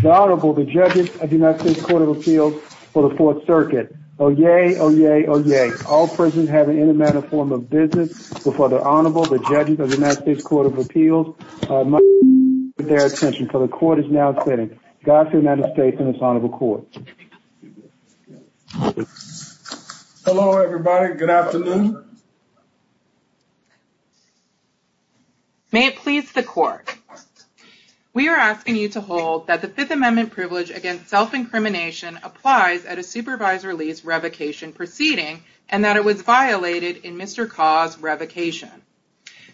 The Honorable, the Judges of the United States Court of Appeals for the 4th Circuit. Oyez! Oyez! Oyez! All present have an intermittent form of business before the Honorable, the Judges of the United States Court of Appeals. I ask for their attention, for the Court is now sitting. God save the United States and this Honorable Court. Hello, everybody. Good afternoon. May it please the Court. We are asking you to hold that the Fifth Amendment privilege against self-incrimination applies at a supervisor-lease revocation proceeding and that it was violated in Mr. Ka's revocation.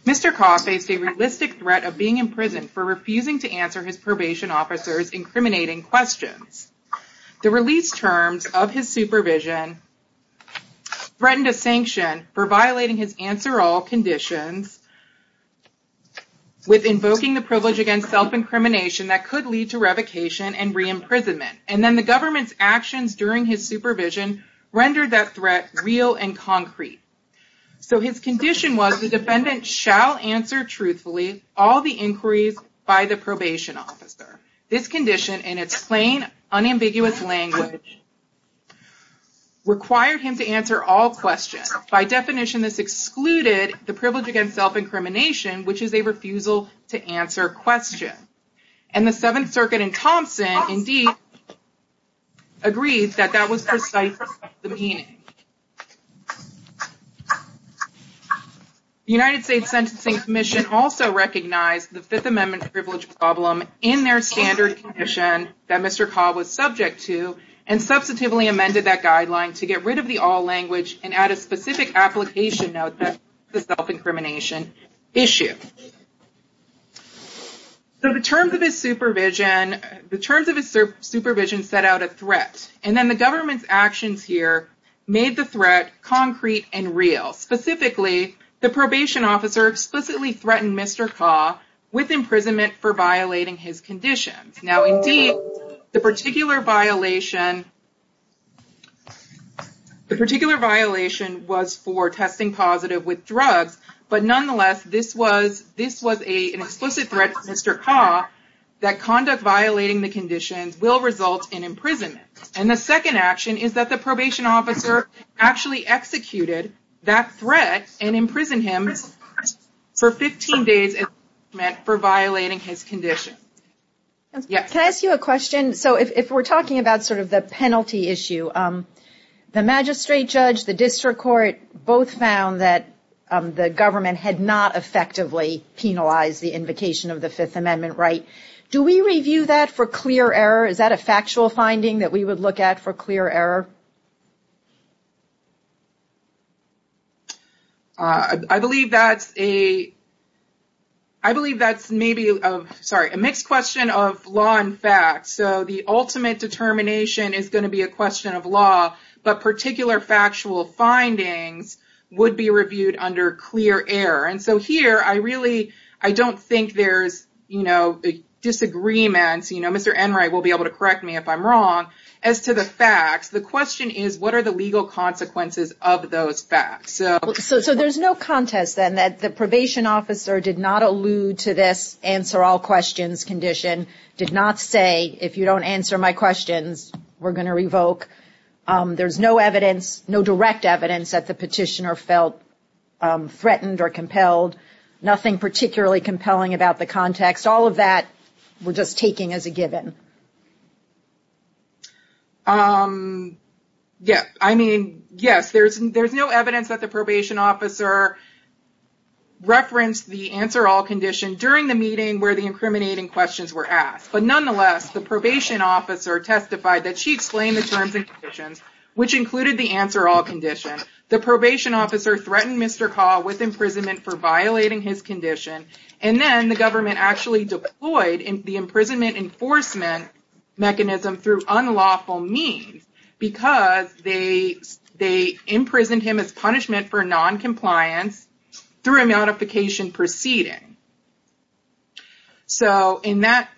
Mr. Ka faced a realistic threat of being imprisoned for refusing to answer his probation officer's incriminating questions. The release terms of his supervision threatened a sanction for violating his answer-all conditions with invoking the privilege against self-incrimination that could lead to revocation and re-imprisonment. And then the government's actions during his supervision rendered that threat real and concrete. So his condition was the defendant shall answer truthfully all the inquiries by the probation officer. This condition, in its plain, unambiguous language, required him to answer all questions. By definition, this excluded the privilege against self-incrimination, which is a refusal to answer questions. And the Seventh Circuit in Thompson, indeed, agreed that that was precisely the meaning. The United States Sentencing Commission also recognized the Fifth Amendment privilege problem in their standard condition that Mr. Ka was subject to and substantively amended that guideline to get rid of the all language and add a specific application note that the self-incrimination issue. So the terms of his supervision set out a threat. And then the government's actions here made the threat concrete and real. Specifically, the probation officer explicitly threatened Mr. Ka with imprisonment for violating his conditions. Now, indeed, the particular violation was for testing positive with drugs. But nonetheless, this was an explicit threat to Mr. Ka that conduct violating the conditions will result in imprisonment. And the second action is that the probation officer actually executed that threat and imprisoned him for 15 days for violating his condition. Can I ask you a question? So if we're talking about sort of the penalty issue, the magistrate judge, the district court, both found that the government had not effectively penalized the invocation of the Fifth Amendment right. Do we review that for clear error? Is that a factual finding that we would look at for clear error? I believe that's maybe a mixed question of law and fact. So the ultimate determination is going to be a question of law. But particular factual findings would be reviewed under clear error. And so here, I really I don't think there's, you know, disagreements. You know, Mr. Enright will be able to correct me if I'm wrong. As to the facts, the question is, what are the legal consequences of those facts? So there's no contest, then, that the probation officer did not allude to this answer all questions condition. Did not say, if you don't answer my questions, we're going to revoke. There's no evidence, no direct evidence that the petitioner felt threatened or compelled. Nothing particularly compelling about the context. All of that we're just taking as a given. Yeah, I mean, yes, there's there's no evidence that the probation officer referenced the answer all condition during the meeting where the incriminating questions were asked. But nonetheless, the probation officer testified that she explained the terms and conditions, which included the answer all condition. The probation officer threatened Mr. Kahl with imprisonment for violating his condition. And then the government actually deployed the imprisonment enforcement mechanism through unlawful means because they imprisoned him as punishment for noncompliance through a modification proceeding. So in that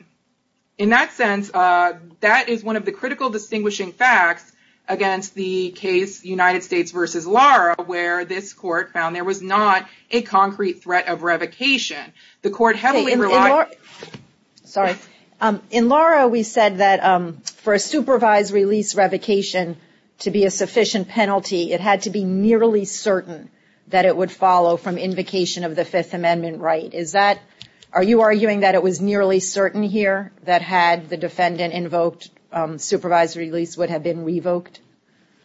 in that sense, that is one of the critical distinguishing facts against the case United States versus Lara, where this court found there was not a concrete threat of revocation. The court heavily relied. Sorry. In Lara, we said that for a supervised release revocation to be a sufficient penalty, it had to be nearly certain that it would follow from invocation of the Fifth Amendment. Right. Is that are you arguing that it was nearly certain here that had the defendant invoked supervised release would have been revoked?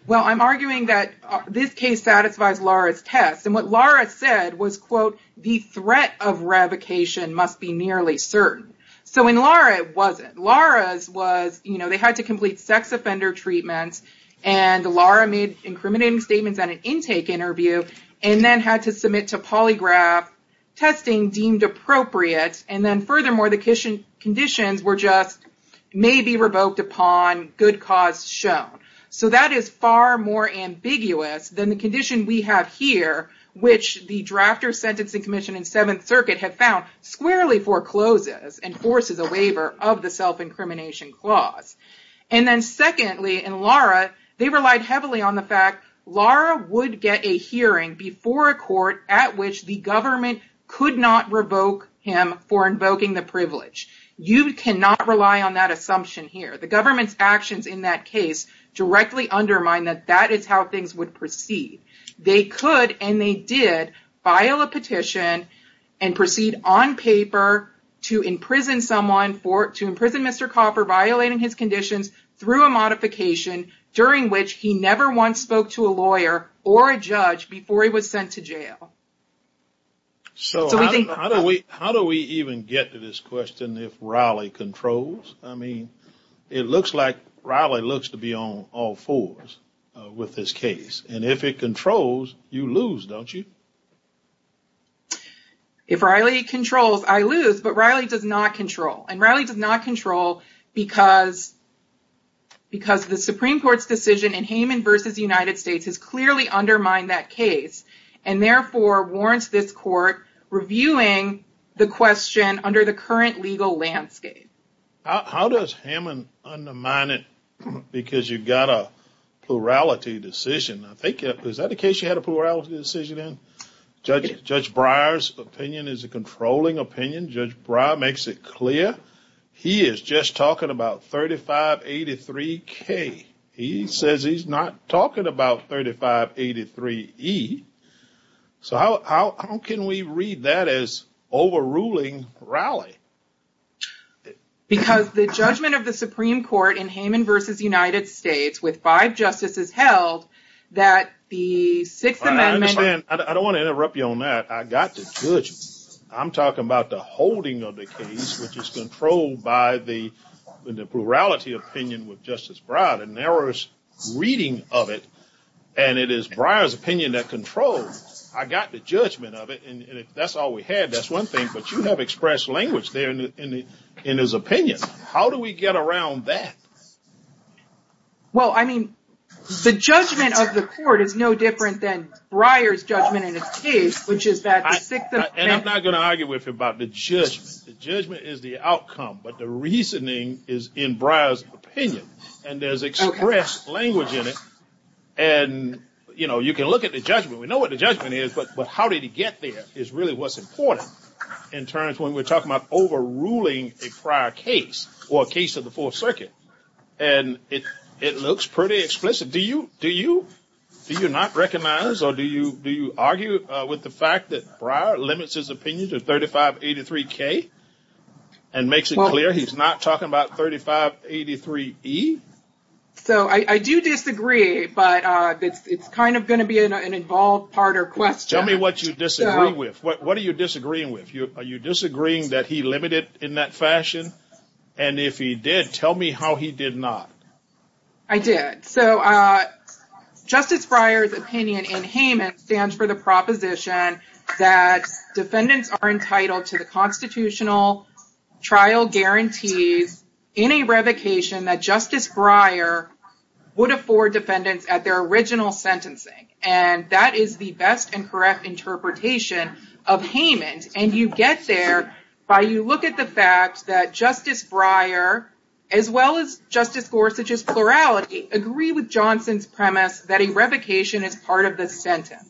Well, I'm arguing that this case satisfies Laura's test. And what Laura said was, quote, the threat of revocation must be nearly certain. So in Lara, it wasn't. Laura's was, you know, they had to complete sex offender treatments and Laura made incriminating statements at an intake interview and then had to submit to polygraph testing deemed appropriate. And then furthermore, the condition conditions were just maybe revoked upon good cause shown. So that is far more ambiguous than the condition we have here, which the drafter sentencing commission and Seventh Circuit have found squarely forecloses and forces a waiver of the self incrimination clause. And then secondly, in Lara, they relied heavily on the fact Laura would get a hearing before a court at which the government could not revoke him for invoking the privilege. You cannot rely on that assumption here. The government's actions in that case directly undermine that that is how things would proceed. They could and they did file a petition and proceed on paper to imprison someone for to imprison Mr. Copper, violating his conditions through a modification during which he never once spoke to a lawyer or a judge before he was sent to jail. So how do we how do we even get to this question if Raleigh controls? I mean, it looks like Raleigh looks to be on all fours with this case. And if it controls, you lose, don't you? If Raleigh controls, I lose. But Raleigh does not control and Raleigh does not control because because the Supreme Court's decision in Hayman versus the United States has clearly undermined that case and therefore warrants this court reviewing the question under the current legal landscape. How does Hammond undermine it? Because you've got a plurality decision. Is that the case you had a plurality decision in? Judge Breyer's opinion is a controlling opinion. Judge Breyer makes it clear he is just talking about 3583-K. He says he's not talking about 3583-E. So how can we read that as overruling Raleigh? Because the judgment of the Supreme Court in Hayman versus the United States with five justices held that the Sixth Amendment. I understand. I don't want to interrupt you on that. I got to judge. I'm talking about the holding of the case, which is controlled by the plurality opinion with Justice Breyer. And there is reading of it. And it is Breyer's opinion that controls. I got the judgment of it. That's all we had. That's one thing. But you have expressed language there in his opinion. How do we get around that? Well, I mean, the judgment of the court is no different than Breyer's judgment in his case, which is that And I'm not going to argue with you about the judgment. The judgment is the outcome. But the reasoning is in Breyer's opinion. And there's expressed language in it. And you can look at the judgment. We know what the judgment is. But how did he get there is really what's important in terms when we're talking about overruling a prior case or a case of the Fourth Circuit. And it looks pretty explicit. Do you do you do you not recognize or do you do you argue with the fact that Breyer limits his opinion to 3583 K and makes it clear he's not talking about 3583 E. So I do disagree. But it's kind of going to be an involved part or question. Tell me what you disagree with. What are you disagreeing with? Are you disagreeing that he limited in that fashion? And if he did, tell me how he did not. I did. So Justice Breyer's opinion in Haman stands for the proposition that defendants are entitled to the constitutional trial guarantees in a revocation that Justice Breyer would afford defendants at their original sentencing. And that is the best and correct interpretation of Haman. And you get there by you look at the fact that Justice Breyer, as well as Justice Gorsuch's plurality, agree with Johnson's premise that a revocation is part of the sentence.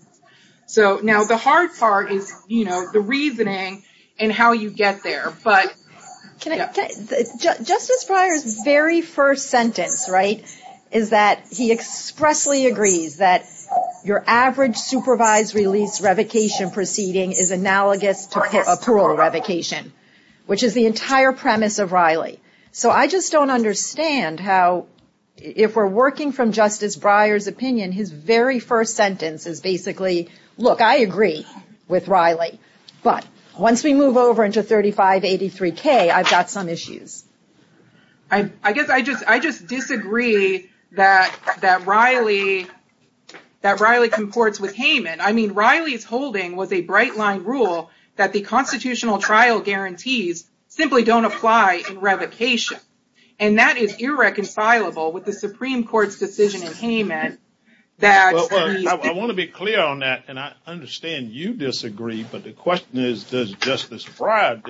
So now the hard part is the reasoning and how you get there. But Justice Breyer's very first sentence is that he is analogous to a parole revocation, which is the entire premise of Riley. So I just don't understand how if we're working from Justice Breyer's opinion, his very first sentence is basically, look, I agree with Riley. But once we move over into 3583 K, I've got some issues. I guess I just I just disagree that that Riley that Riley comports with Haman. I mean, Riley's holding was a bright line rule that the constitutional trial guarantees simply don't apply in revocation. And that is irreconcilable with the Supreme Court's decision in Haman that I want to be clear on that. And I understand you disagree. But the question is, does Justice Breyer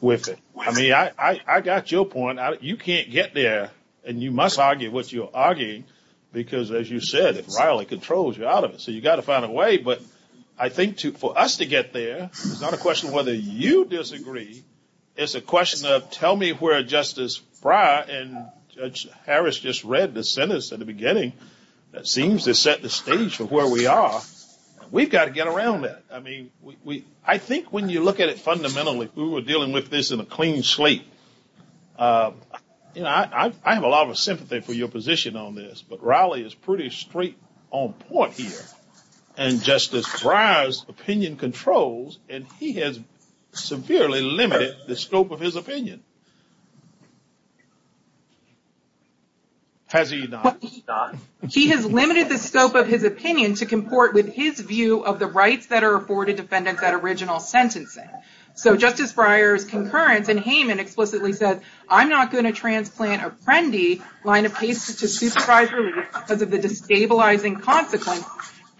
with it? I mean, I got your point. You can't get there and you must argue what you are arguing, because, as you said, Riley controls you out of it. So you got to find a way. But I think for us to get there, it's not a question of whether you disagree. It's a question of tell me where Justice Breyer and Judge Harris just read the sentence at the beginning that seems to set the stage for where we are. We've got to get around that. I mean, we I think when you look at it fundamentally, we were dealing with this in a clean slate. You know, I have a lot of sympathy for your position on this, but Riley is pretty straight on point here. And Justice Breyer's opinion controls and he has severely limited the scope of his opinion. Has he not? He has limited the scope of his opinion to comport with his view of the rights that are afforded defendants at original sentencing. So Justice Breyer's concurrence and Haman explicitly said, I'm not going to transplant Apprendi line of cases to supervisor because of the destabilizing consequence.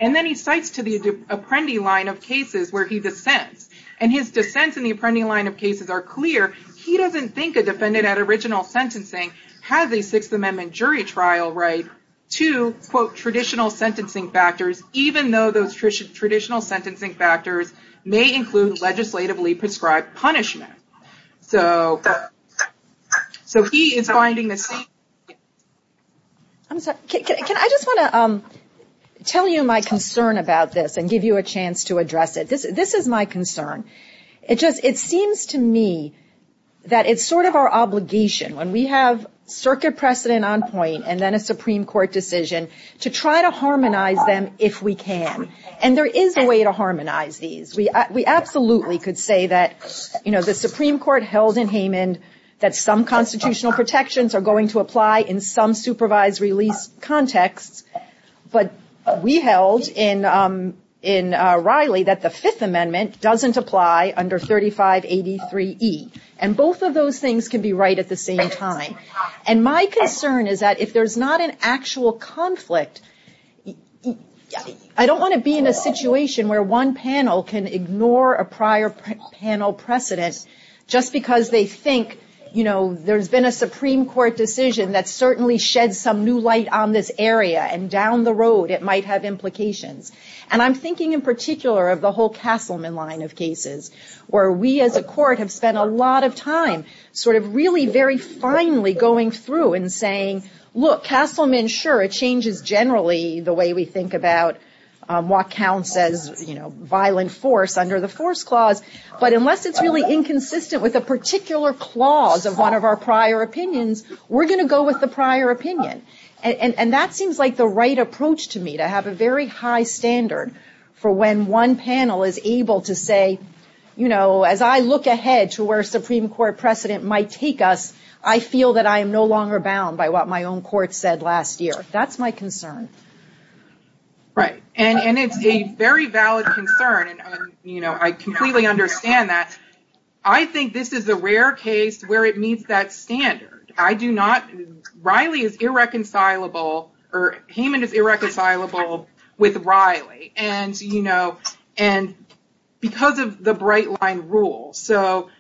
And then he cites to the Apprendi line of cases where he dissents. And his dissents in the Apprendi line of cases are clear. He doesn't think a defendant at original sentencing has a Sixth Amendment jury trial right to quote traditional sentencing factors, even though those traditional sentencing factors may include legislatively prescribed punishment. So he is finding the same. I just want to tell you my concern about this and give you a chance to address it. This is my concern. It seems to me that it's sort of our obligation when we have circuit precedent on point and then a Supreme Court decision to try to harmonize them if we can. And there is a way to harmonize these. We absolutely could say that the Supreme Court held in Haman that some constitutional protections are going to apply in some supervised release contexts. But we held in Riley that the Fifth Amendment doesn't apply under 3583E. And both of those things can be right at the same time. And my concern is that if there's not an actual conflict, I don't want to be in a situation where one panel can ignore a prior panel precedent just because they think, you know, there's been a Supreme Court decision that certainly sheds some new light on this area and down the road it might have implications. And I'm thinking in particular of the whole Castleman line of cases where we as a court have spent a lot of time sort of really very finely going through and saying, look, Castleman, sure, it changes generally the way we think about what counts as, you know, one of our prior opinions, we're going to go with the prior opinion. And that seems like the right approach to me, to have a very high standard for when one panel is able to say, you know, as I look ahead to where a Supreme Court precedent might take us, I feel that I am no longer bound by what my own court said last year. That's my concern. Right. And it's a very valid concern. And, you know, I completely understand that. I think this is a rare case where it meets that standard. I do not. Riley is irreconcilable or Haman is irreconcilable with Riley. And, you know, and because of the bright line rule. So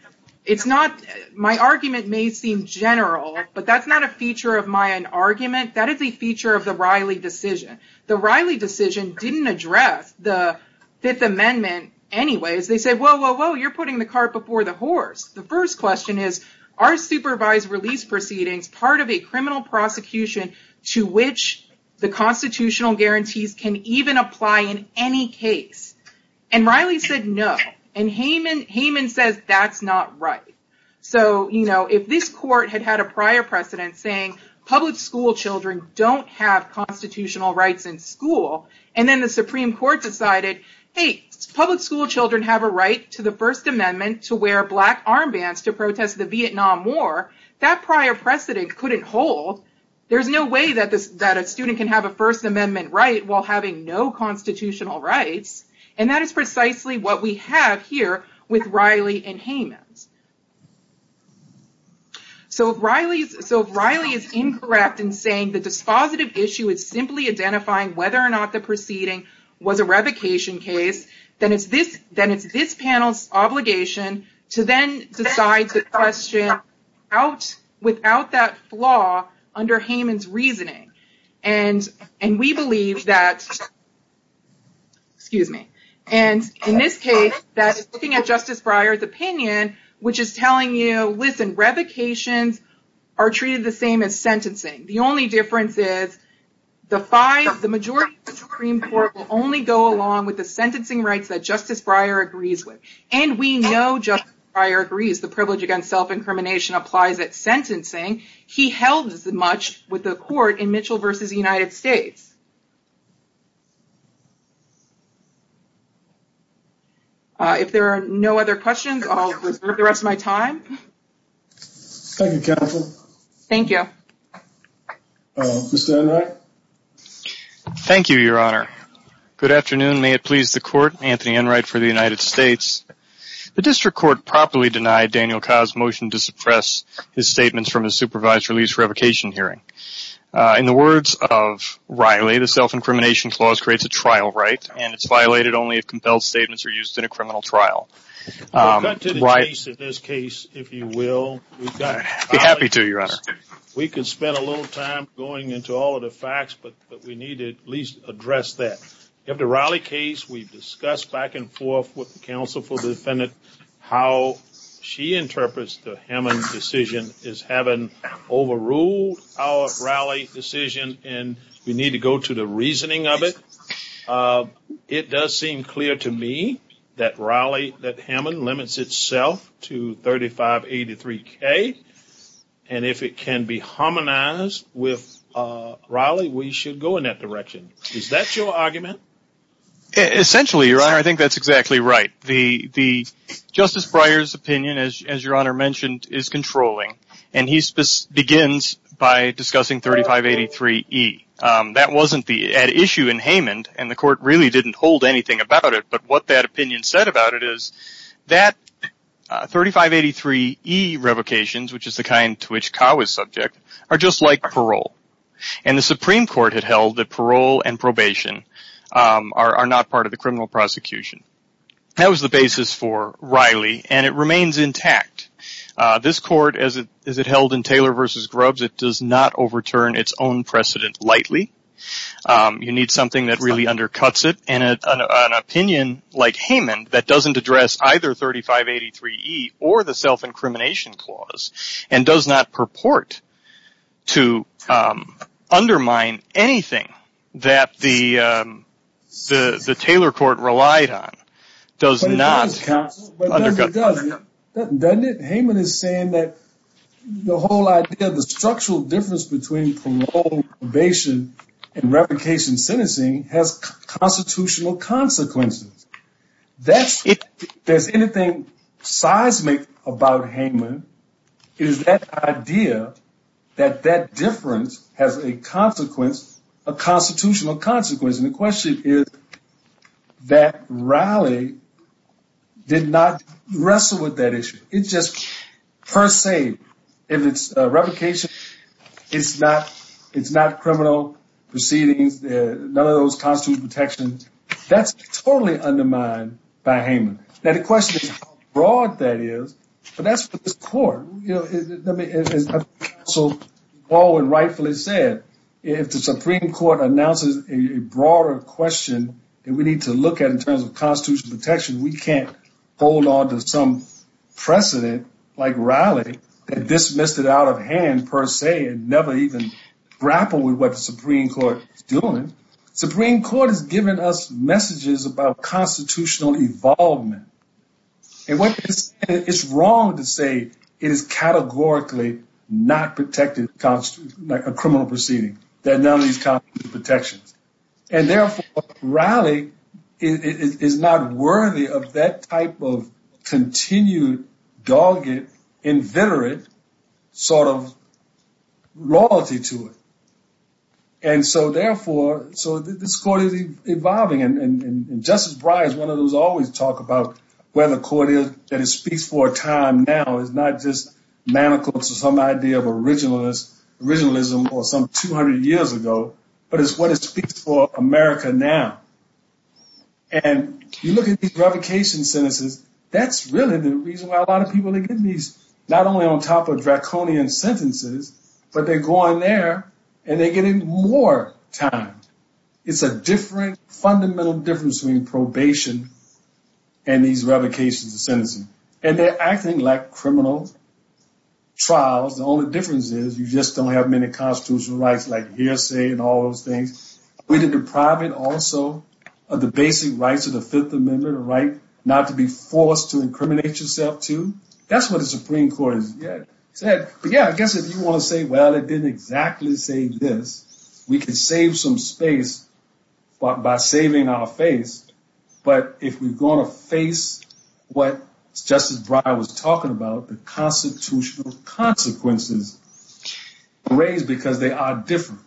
it's not my argument may seem general, but that's not a feature of my argument. That is a feature of the Riley decision. The Riley decision didn't address the Fifth Amendment anyways. They said, well, well, well, you're putting the cart before the horse. The first question is are supervised release proceedings part of a criminal prosecution to which the constitutional guarantees can even apply in any case? And Riley said no. And Haman says that's not right. So, you know, if this court had had a prior precedent saying public school children don't have constitutional rights in school and then the Supreme Court decided, hey, public school children have a right to the First Amendment to wear black armbands to protest the Vietnam War. That prior precedent couldn't hold. There's no way that this that a student can have a First Amendment right while having no constitutional rights. And that is precisely what we have here with Riley and Haman. So if Riley is incorrect in saying the dispositive issue is simply identifying whether or not the proceeding was a revocation case, then it's this panel's obligation to then decide the question out without that flaw under Haman's reasoning. And in this case, looking at Justice Breyer's opinion, which is telling you, listen, revocations are treated the same as sentencing. The only difference is the majority of the Supreme Court will only go along with the sentencing rights that Justice Breyer agrees with. And we know Justice Breyer agrees the privilege against self-incrimination applies at sentencing. He held as much with the court in Mitchell v. United States. If there are no other questions, I'll reserve the rest of my time. Thank you, Counsel. Thank you. Mr. Enright. Thank you, Your Honor. Good afternoon. May it please the Court. Anthony Enright for the United States. The District Court properly denied Daniel Kaa's motion to have Riley, the self-incrimination clause, creates a trial right, and it's violated only if compelled statements are used in a criminal trial. We'll cut to the chase in this case, if you will. I'd be happy to, Your Honor. We could spend a little time going into all of the facts, but we need to at least address that. You have the Riley case. We've discussed back and forth with the counsel for the defendant how she interprets the Hammond decision as having overruled our Riley decision, and we need to go to the reasoning of it. It does seem clear to me that Riley, that Hammond limits itself to 3583K, and if it can be harmonized with Riley, we should go in that direction. Is that your argument? Essentially, Your Honor, I think that's exactly right. Justice Breyer's opinion, as Your Honor mentioned, is controlling, and he begins by discussing 3583E. That wasn't at issue in Hammond, and the Court really didn't hold anything about it, but what that opinion said about it is that 3583E revocations, which is the kind to which Kaa was subject, are just like parole, and the Supreme Court had held that parole and probation are not part of the criminal prosecution. That was the basis for Riley, and it remains intact. This Court, as it held in Taylor v. Grubbs, it does not overturn its own precedent lightly. You need something that really undercuts it, and an opinion like Hammond that doesn't address either 3583E or the self-incrimination clause, and does not purport to undermine anything that the Taylor Court relied on, does not undercut it. But it does, Counsel. It does. Doesn't it? Hammond is saying that the whole idea of the structural difference between parole and probation and revocation sentencing has constitutional consequences. If there's anything seismic about Hammond, it is that idea that that difference has a consequence, a constitutional consequence, and the question is that Riley did not wrestle with that issue. It's just per se. If it's revocation, it's not criminal proceedings, none of those constitutional protections, that's totally undermined by Hammond. Now the question is how broad that is, but that's for this Court. As Counsel Baldwin rightfully said, if the Supreme Court announces a broader question that we need to look at in terms of constitutional protection, we can't hold on to some precedent like Riley that dismissed it out of hand per se and never even grappled with what the Supreme Court is doing. Supreme Court has given us messages about constitutional involvement, and it's wrong to say it is categorically not protected, like a criminal proceeding, that none of these constitutional protections. And therefore Riley is not worthy of that type of continued, dogged, inveterate loyalty to it. And so therefore, this Court is evolving, and Justice Breyer is one of those who always talk about where the Court is, that it speaks for a time now. It's not just manacled to some idea of originalism or some 200 years ago, but it's what it speaks for America now. And you look at these revocation sentences, that's really the reason why a lot of people are getting these, not only on top of draconian sentences, but they're going there and they're getting more time. It's a different fundamental difference between probation and these revocation sentences. And they're acting like criminal trials. The only difference is you just don't have many constitutional rights, like hearsay and all those things. We're deprived also of the basic rights of the Fifth Amendment, a right not to be forced to incriminate yourself to. That's what the Supreme Court has yet said. But yeah, I guess if you want to say, well, it didn't exactly say this, we can save some space by saving our face. But if we're going to face what Justice Breyer was talking about, the constitutional consequences raised, because they are different.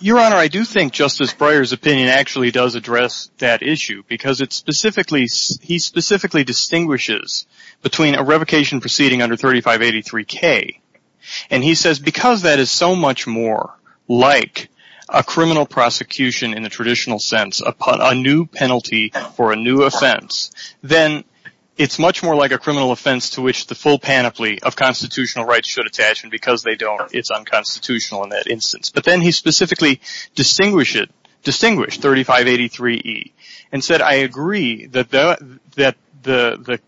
Your Honor, I do think Justice Breyer's opinion actually does address that issue, because he specifically distinguishes between a revocation proceeding under 3583K and he says, because that is so much more like a criminal prosecution in the traditional sense, a new penalty for a new offense, then it's much more like a criminal offense to which the full panoply of constitutional rights should attach. And because they don't, it's unconstitutional in that instance. But then he specifically distinguished 3583E and said, I agree that the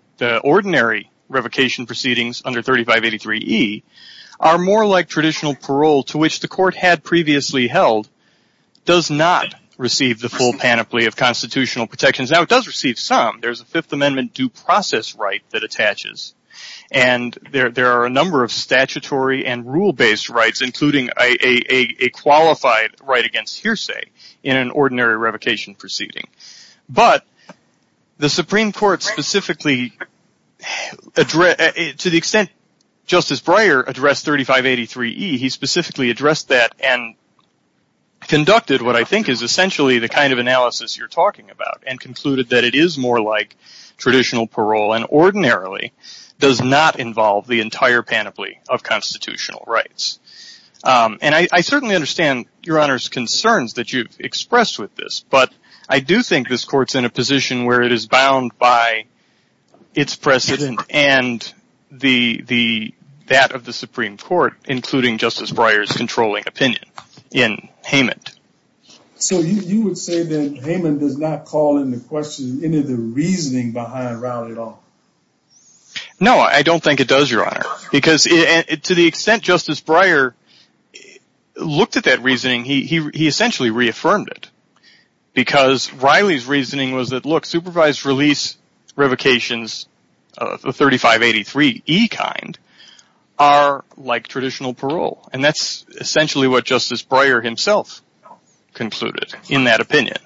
ordinary revocation proceedings under 3583E are more like traditional parole to which the court had previously held, does not receive the full panoply of constitutional protections. Now, it does receive some. There's a Fifth Amendment due process right that attaches. And there are a number of statutory and rule-based rights, including a qualified right against hearsay in an ordinary revocation proceeding. But the Supreme Court specifically addressed, to the extent Justice Breyer addressed 3583E, he specifically addressed that and conducted what I think is essentially the kind of analysis you're talking about and concluded that it is more like traditional parole and ordinarily does not involve the entire panoply of constitutional rights. And I certainly understand Your Honor's concerns that you've raised, but I don't think it does, Your Honor. Because to the extent Justice Breyer looked at that reasoning, he essentially reaffirmed it. Because Riley's reasoning was that, look, supervised release revocations of the 3583E kind are like traditional parole. And that's essentially what Justice Breyer himself concluded in that opinion.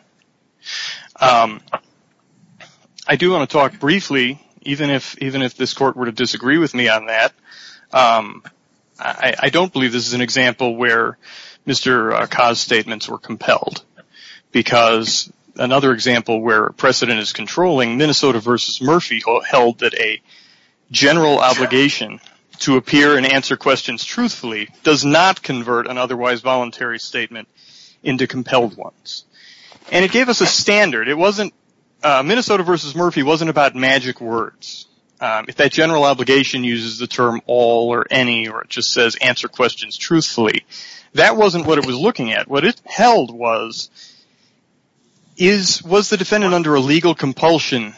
I do want to talk briefly, even if this Court were to disagree with me on that. I don't believe this is an example where Mr. Kaa's statements were compelled. Because another example where precedent is controlling, Minnesota v. Murphy held that a general obligation to appear and answer questions truthfully does not convert an otherwise voluntary statement into compelled ones. And it gave us a standard. Minnesota v. Murphy wasn't about magic words. If that general obligation uses the term all or any or just says answer questions truthfully, that wasn't what it was looking at. What it held was, was the defendant under a legal compulsion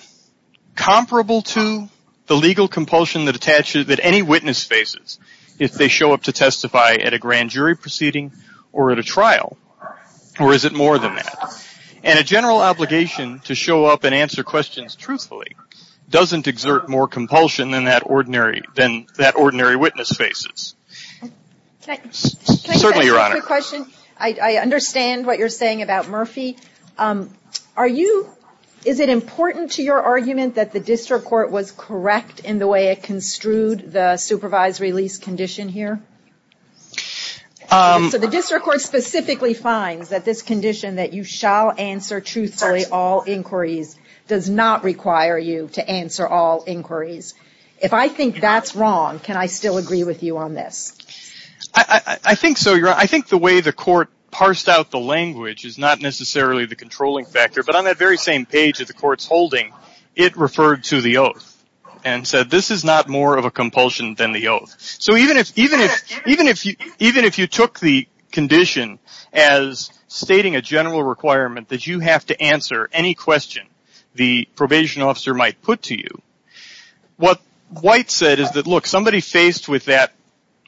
comparable to the legal compulsion that any witness faces if they show up to testify at a grand jury proceeding or at a trial? Or is it more than that? And a general obligation to show up and answer questions truthfully doesn't exert more compulsion than that ordinary witness faces? Certainly, Your Honor. I understand what you're saying about Murphy. Are you, is it important to your argument that the district court was correct in the way it construed the supervised release condition here? So the district court specifically finds that this condition that you shall answer truthfully all inquiries does not require you to answer all inquiries. If I think that's wrong, can I still agree with you on this? I think so, Your Honor. I think the way the court parsed out the language is not necessarily the controlling factor, but on that very same page that the court's holding, it referred to the oath and said this is not more of a compulsion than the oath. So even if you took the condition as stating a general requirement that you have to answer any question the probation officer might put to you, what White said is that look, somebody faced with that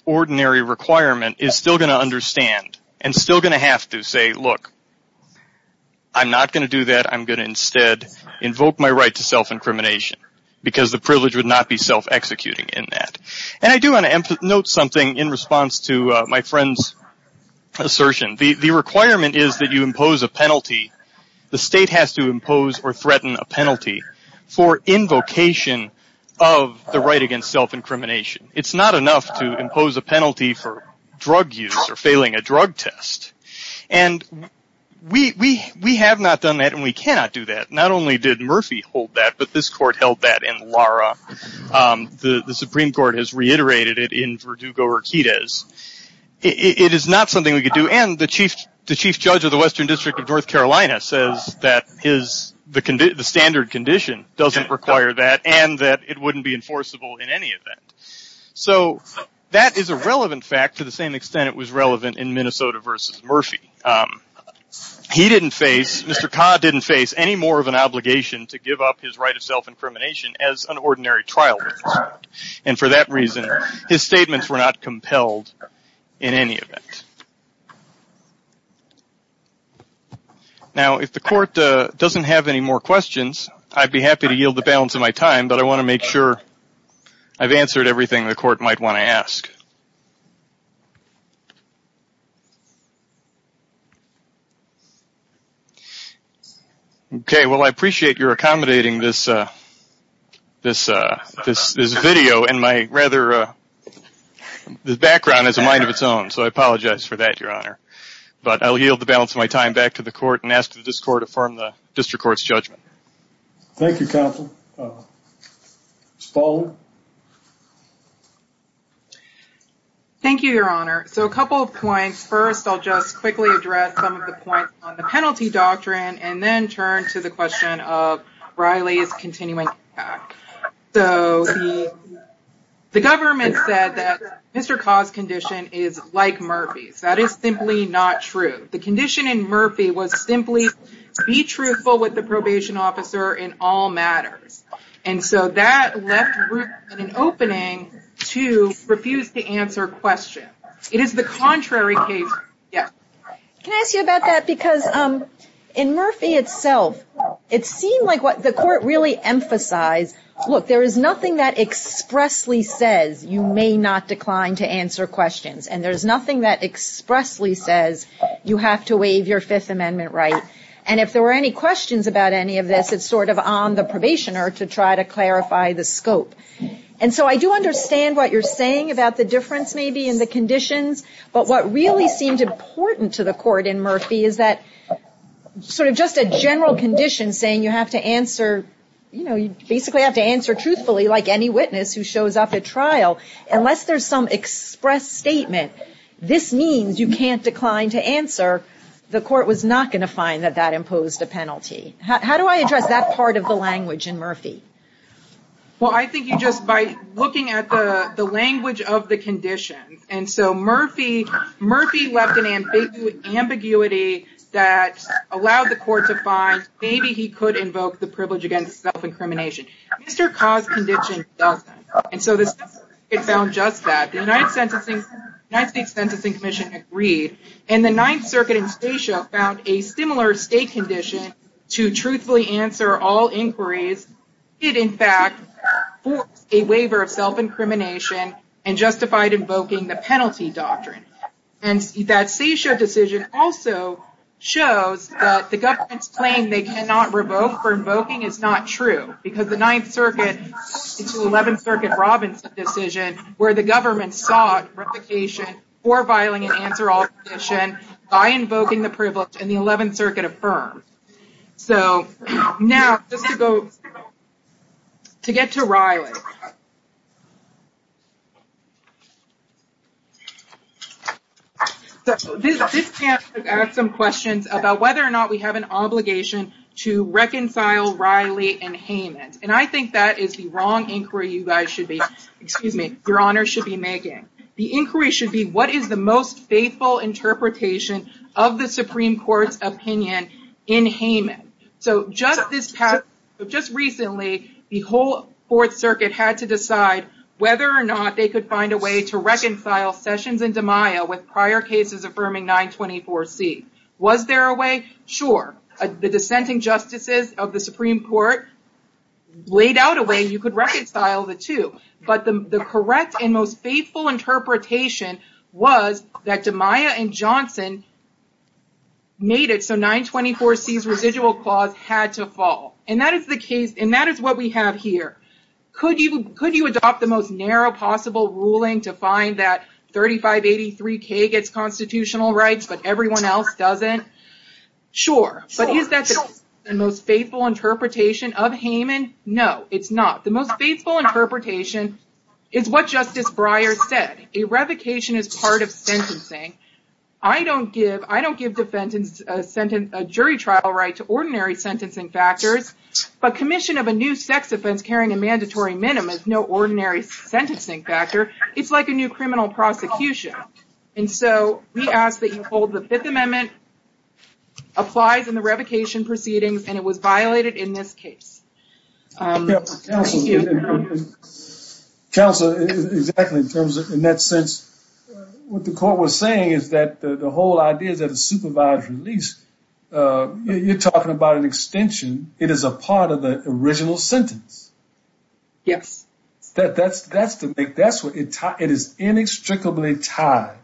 ordinary requirement is still going to understand and still going to have to say, look, I'm not going to do that. I'm going to instead invoke my right to self-incrimination. I want to note something in response to my friend's assertion. The requirement is that you impose a penalty. The state has to impose or threaten a penalty for invocation of the right against self-incrimination. It's not enough to impose a penalty for drug use or failing a drug test. And we have not done that and we cannot do that. Not only did Murphy hold that, but this court held that and Lara, the Supreme Court has reiterated it in Verdugo-Riquidez. It is not something we could do and the chief judge of the Western District of North Carolina says that the standard condition doesn't require that and that it wouldn't be enforceable in any event. So that is a relevant fact to the same extent it was relevant in Minnesota v. Murphy. He didn't face, Mr. Kaa didn't face any more of an obligation to give up his right of self-incrimination as an ordinary trial. And for that reason, his statements were not compelled in any event. Now, if the court doesn't have any more questions, I'd be happy to yield the balance of my time, but I want to make sure I've answered everything the court might want to ask. Okay, well I appreciate your accommodating this video and my rather background as a mind of its own, so I apologize for that, Your Honor. But I'll yield the balance of my time back to the court and ask that this court affirm the district court's judgment. Thank you, counsel. Ms. Fowler? Thank you, Your Honor. So a couple of points. First, I'll just quickly address some of the points on the penalty doctrine and then turn to the question of Riley's continuing impact. The government said that Mr. Kaa's condition is like Murphy's. That is simply not true. The condition in Murphy was simply to be truthful with the probation officer in all matters. And so that left an opening to refuse to answer questions. It is the contrary case. Can I ask you about that? Because in Murphy itself, it seemed like what the court really emphasized, look, there is nothing that expressly says you may not decline to answer questions. And there's nothing that says you may not decline to answer questions about any of this. It's sort of on the probationer to try to clarify the scope. And so I do understand what you're saying about the difference maybe in the conditions, but what really seemed important to the court in Murphy is that sort of just a general condition saying you have to answer, you know, you basically have to answer truthfully like any witness who shows up at trial. Unless there's some express statement, this means you imposed a penalty. How do I address that part of the language in Murphy? Well, I think you just by looking at the language of the conditions. And so Murphy left an ambiguity that allowed the court to find maybe he could invoke the privilege against self-incrimination. Mr. Kaa's condition doesn't. And so the United States Census and Commission agreed. And the Ninth Circuit in Stacia found a similar state condition to truthfully answer all inquiries. It in fact forced a waiver of self-incrimination and justified invoking the penalty doctrine. And that Stacia decision also shows that the government's claim they cannot revoke for invoking is not true because the Ninth Circuit and the Eleventh Circuit Robinson decision where the government sought replication for violating an answer all condition by invoking the privilege and the Eleventh Circuit affirmed. So now just to go to get to Riley. This panel has asked some questions about whether or not we have an obligation to reconcile Riley and Heyman. And I think that is the wrong inquiry you guys should be making. The inquiry should be what is the most faithful interpretation of the Supreme Court's opinion in Heyman. So just recently the whole Fourth Circuit had to decide whether or not they could find a way to reconcile Sessions and DeMaia with prior cases affirming 924C. Was there a way? Sure. The dissenting justices of the Supreme Court laid out a way you could reconcile the two. But the correct and most faithful interpretation was that DeMaia and Johnson made it so 924C's residual clause had to fall. And that is what we have here. Could you adopt the most narrow possible ruling to find that 3583K gets constitutional rights but everyone else doesn't? Sure. But is that the most faithful interpretation of Heyman? No, it's not. The most faithful interpretation is what Justice Breyer said. A revocation is part of sentencing. I don't give defendants a jury trial right to ordinary sentencing factors. But commission of a new sex offense carrying a mandatory minimum is no ordinary sentencing factor. It's like a new criminal prosecution. And so we ask that you hold the Fifth Amendment applies in the revocation proceedings and it was violated in this case. Counselor, exactly in that sense what the court was saying is that the whole idea is that a supervised release, you're talking about an extension. It is a part of the original sentence. Yes. That's the thing. It is inextricably tied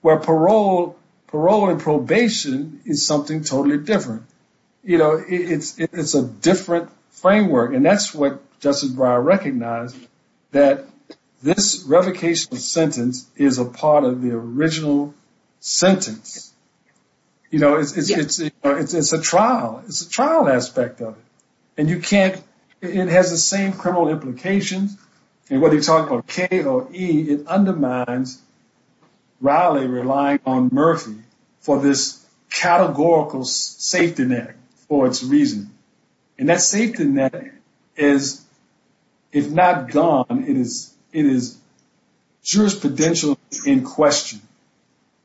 where parole and probation is something totally different. It's a different framework. And that's what this revocation sentence is a part of the original sentence. You know, it's a trial. It's a trial aspect of it. And you can't it has the same criminal implications. And whether you're talking about K or E, it undermines Riley relying on Murphy for this categorical safety net for its reason. And that safety net is, if not gone, it is jurisprudential in question.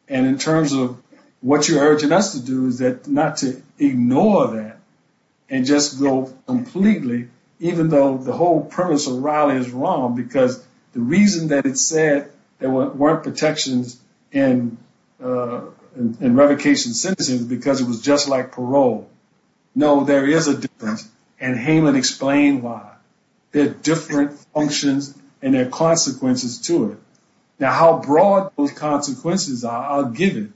And in terms of what you're urging us to do is that not to ignore that and just go completely, even though the whole premise of Riley is wrong, because the reason that it said there weren't protections in revocation sentences is because it was just like parole. No, there is a difference. And Haman explained why. There are different functions and there are consequences to it. Now, how broad those consequences are, I'll give it.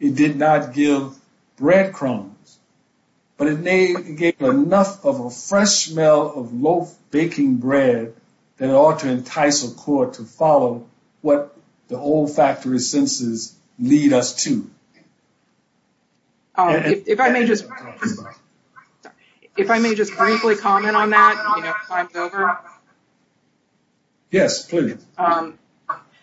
It did not give breadcrumbs, but it gave enough of a fresh smell of loaf baking bread that ought to entice a court to follow what the olfactory senses lead us to. If I may just briefly comment on that. Yes, please.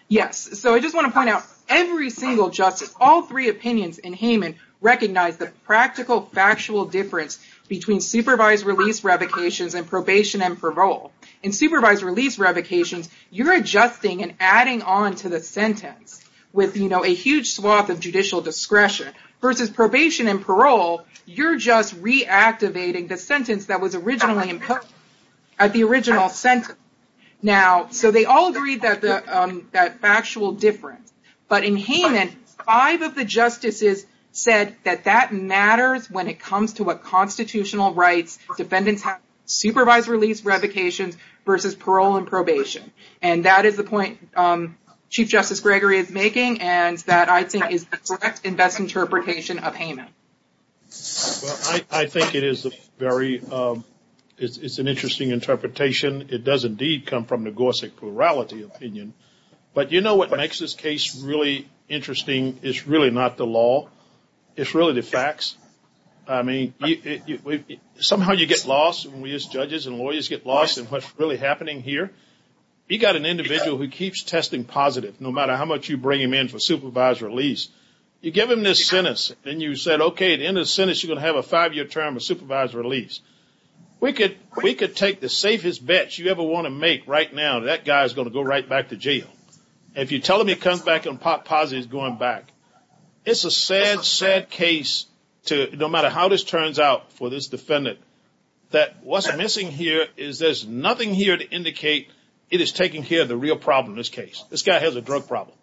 Yes. So I just want to point out every single justice, all three opinions in Haman recognize the practical factual difference between supervised release revocations and probation and parole. In supervised release revocations, you're adjusting and adding on to the sentence with a huge swath of judicial discretion, versus probation and parole, you're just reactivating the sentence that was originally imposed at the original sentence. Now, so they all agree that factual difference, but in Haman, five of the justices said that that matters when it comes to what constitutional rights defendants have in supervised release revocations versus parole and probation. And that is the point Chief Justice Gregory is making and that I think is the correct and best interpretation of Haman. Well, I think it is a very, it's an interesting interpretation. It does indeed come from the Gorsuch plurality opinion. But you know what makes this case really interesting is really not the law. It's really the facts. I mean, somehow you get lost when we as judges and lawyers get lost in what's really happening here. You got an individual who keeps testing positive, no matter how much you bring him in for supervised release. You give him this sentence and you said, okay, at the end of the sentence you're going to have a five-year term of supervised release. We could take the safest bets you ever want to make right now, that guy is going to go right back to jail. If you tell him he comes back and positive, he's going back. It's a sad, sad case, no matter how this turns out for this defendant, that what's missing here is there's nothing here to indicate it is taking care of the real problem in this case. This guy has a drug problem.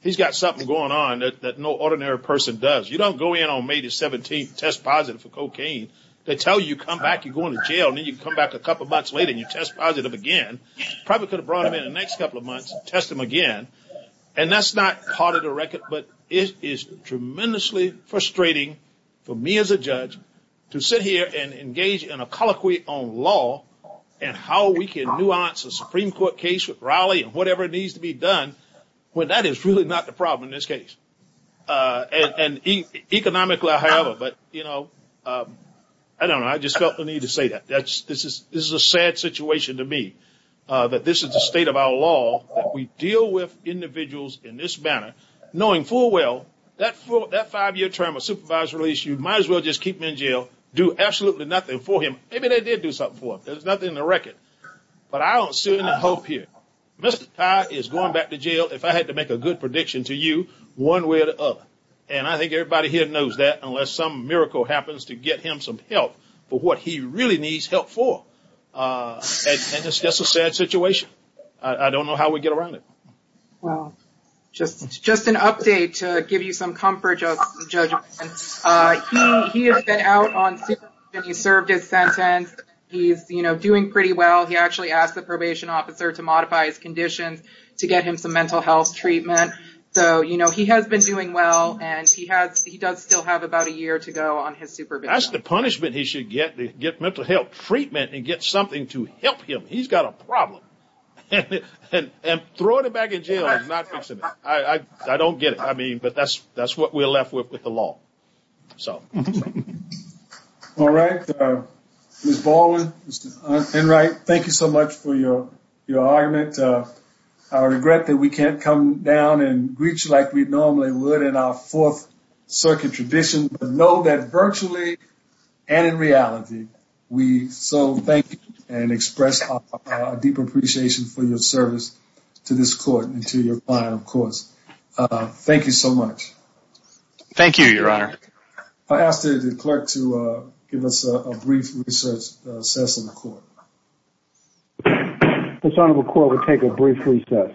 He's got something going on that no ordinary person does. You don't go in on May the 17th, test positive for cocaine. They tell you come back, you go into jail, and then you come back a couple months later and you test positive again. Probably could have brought him in the next couple of months, test him again. And that's not part of the record, but it is tremendously frustrating for me as a judge to sit here and engage in a colloquy on law and how we can nuance a Supreme Court case with Raleigh and whatever needs to be done. Economically, however, I don't know. I just felt the need to say that. This is a sad situation to me, that this is the state of our law, that we deal with individuals in this manner, knowing full well that five-year term of supervisory release, you might as well just keep him in jail, do absolutely nothing for him. Maybe they did do something for him. There's nothing in the record. But I don't see any hope here. Mr. Tye is going to come back to jail, if I had to make a good prediction to you, one way or the other. And I think everybody here knows that, unless some miracle happens to get him some help for what he really needs help for. And it's just a sad situation. I don't know how we get around it. Well, just an update to give you some comfort, Judge. He has been out on probation. He served his sentence. He's doing pretty well. He actually asked the probation officer to modify his conditions to get him some mental health treatment. So he has been doing well, and he does still have about a year to go on his supervision. That's the punishment he should get. Get mental health treatment and get something to help him. He's got a problem. And throwing him back in jail is not fixing it. I don't get it. But that's what we're left with with the law. All right. Ms. Baldwin, Mr. Enright, thank you so much for your argument. I regret that we can't come down and greet you like we normally would in our Fourth Circuit tradition, but know that virtually and in reality, we so thank you and express our deep appreciation for your service to this court and to your client, of course. Thank you so much. Thank you, Your Honor. I asked the clerk to give us a brief recess in the court. This Honorable Court will take a brief recess.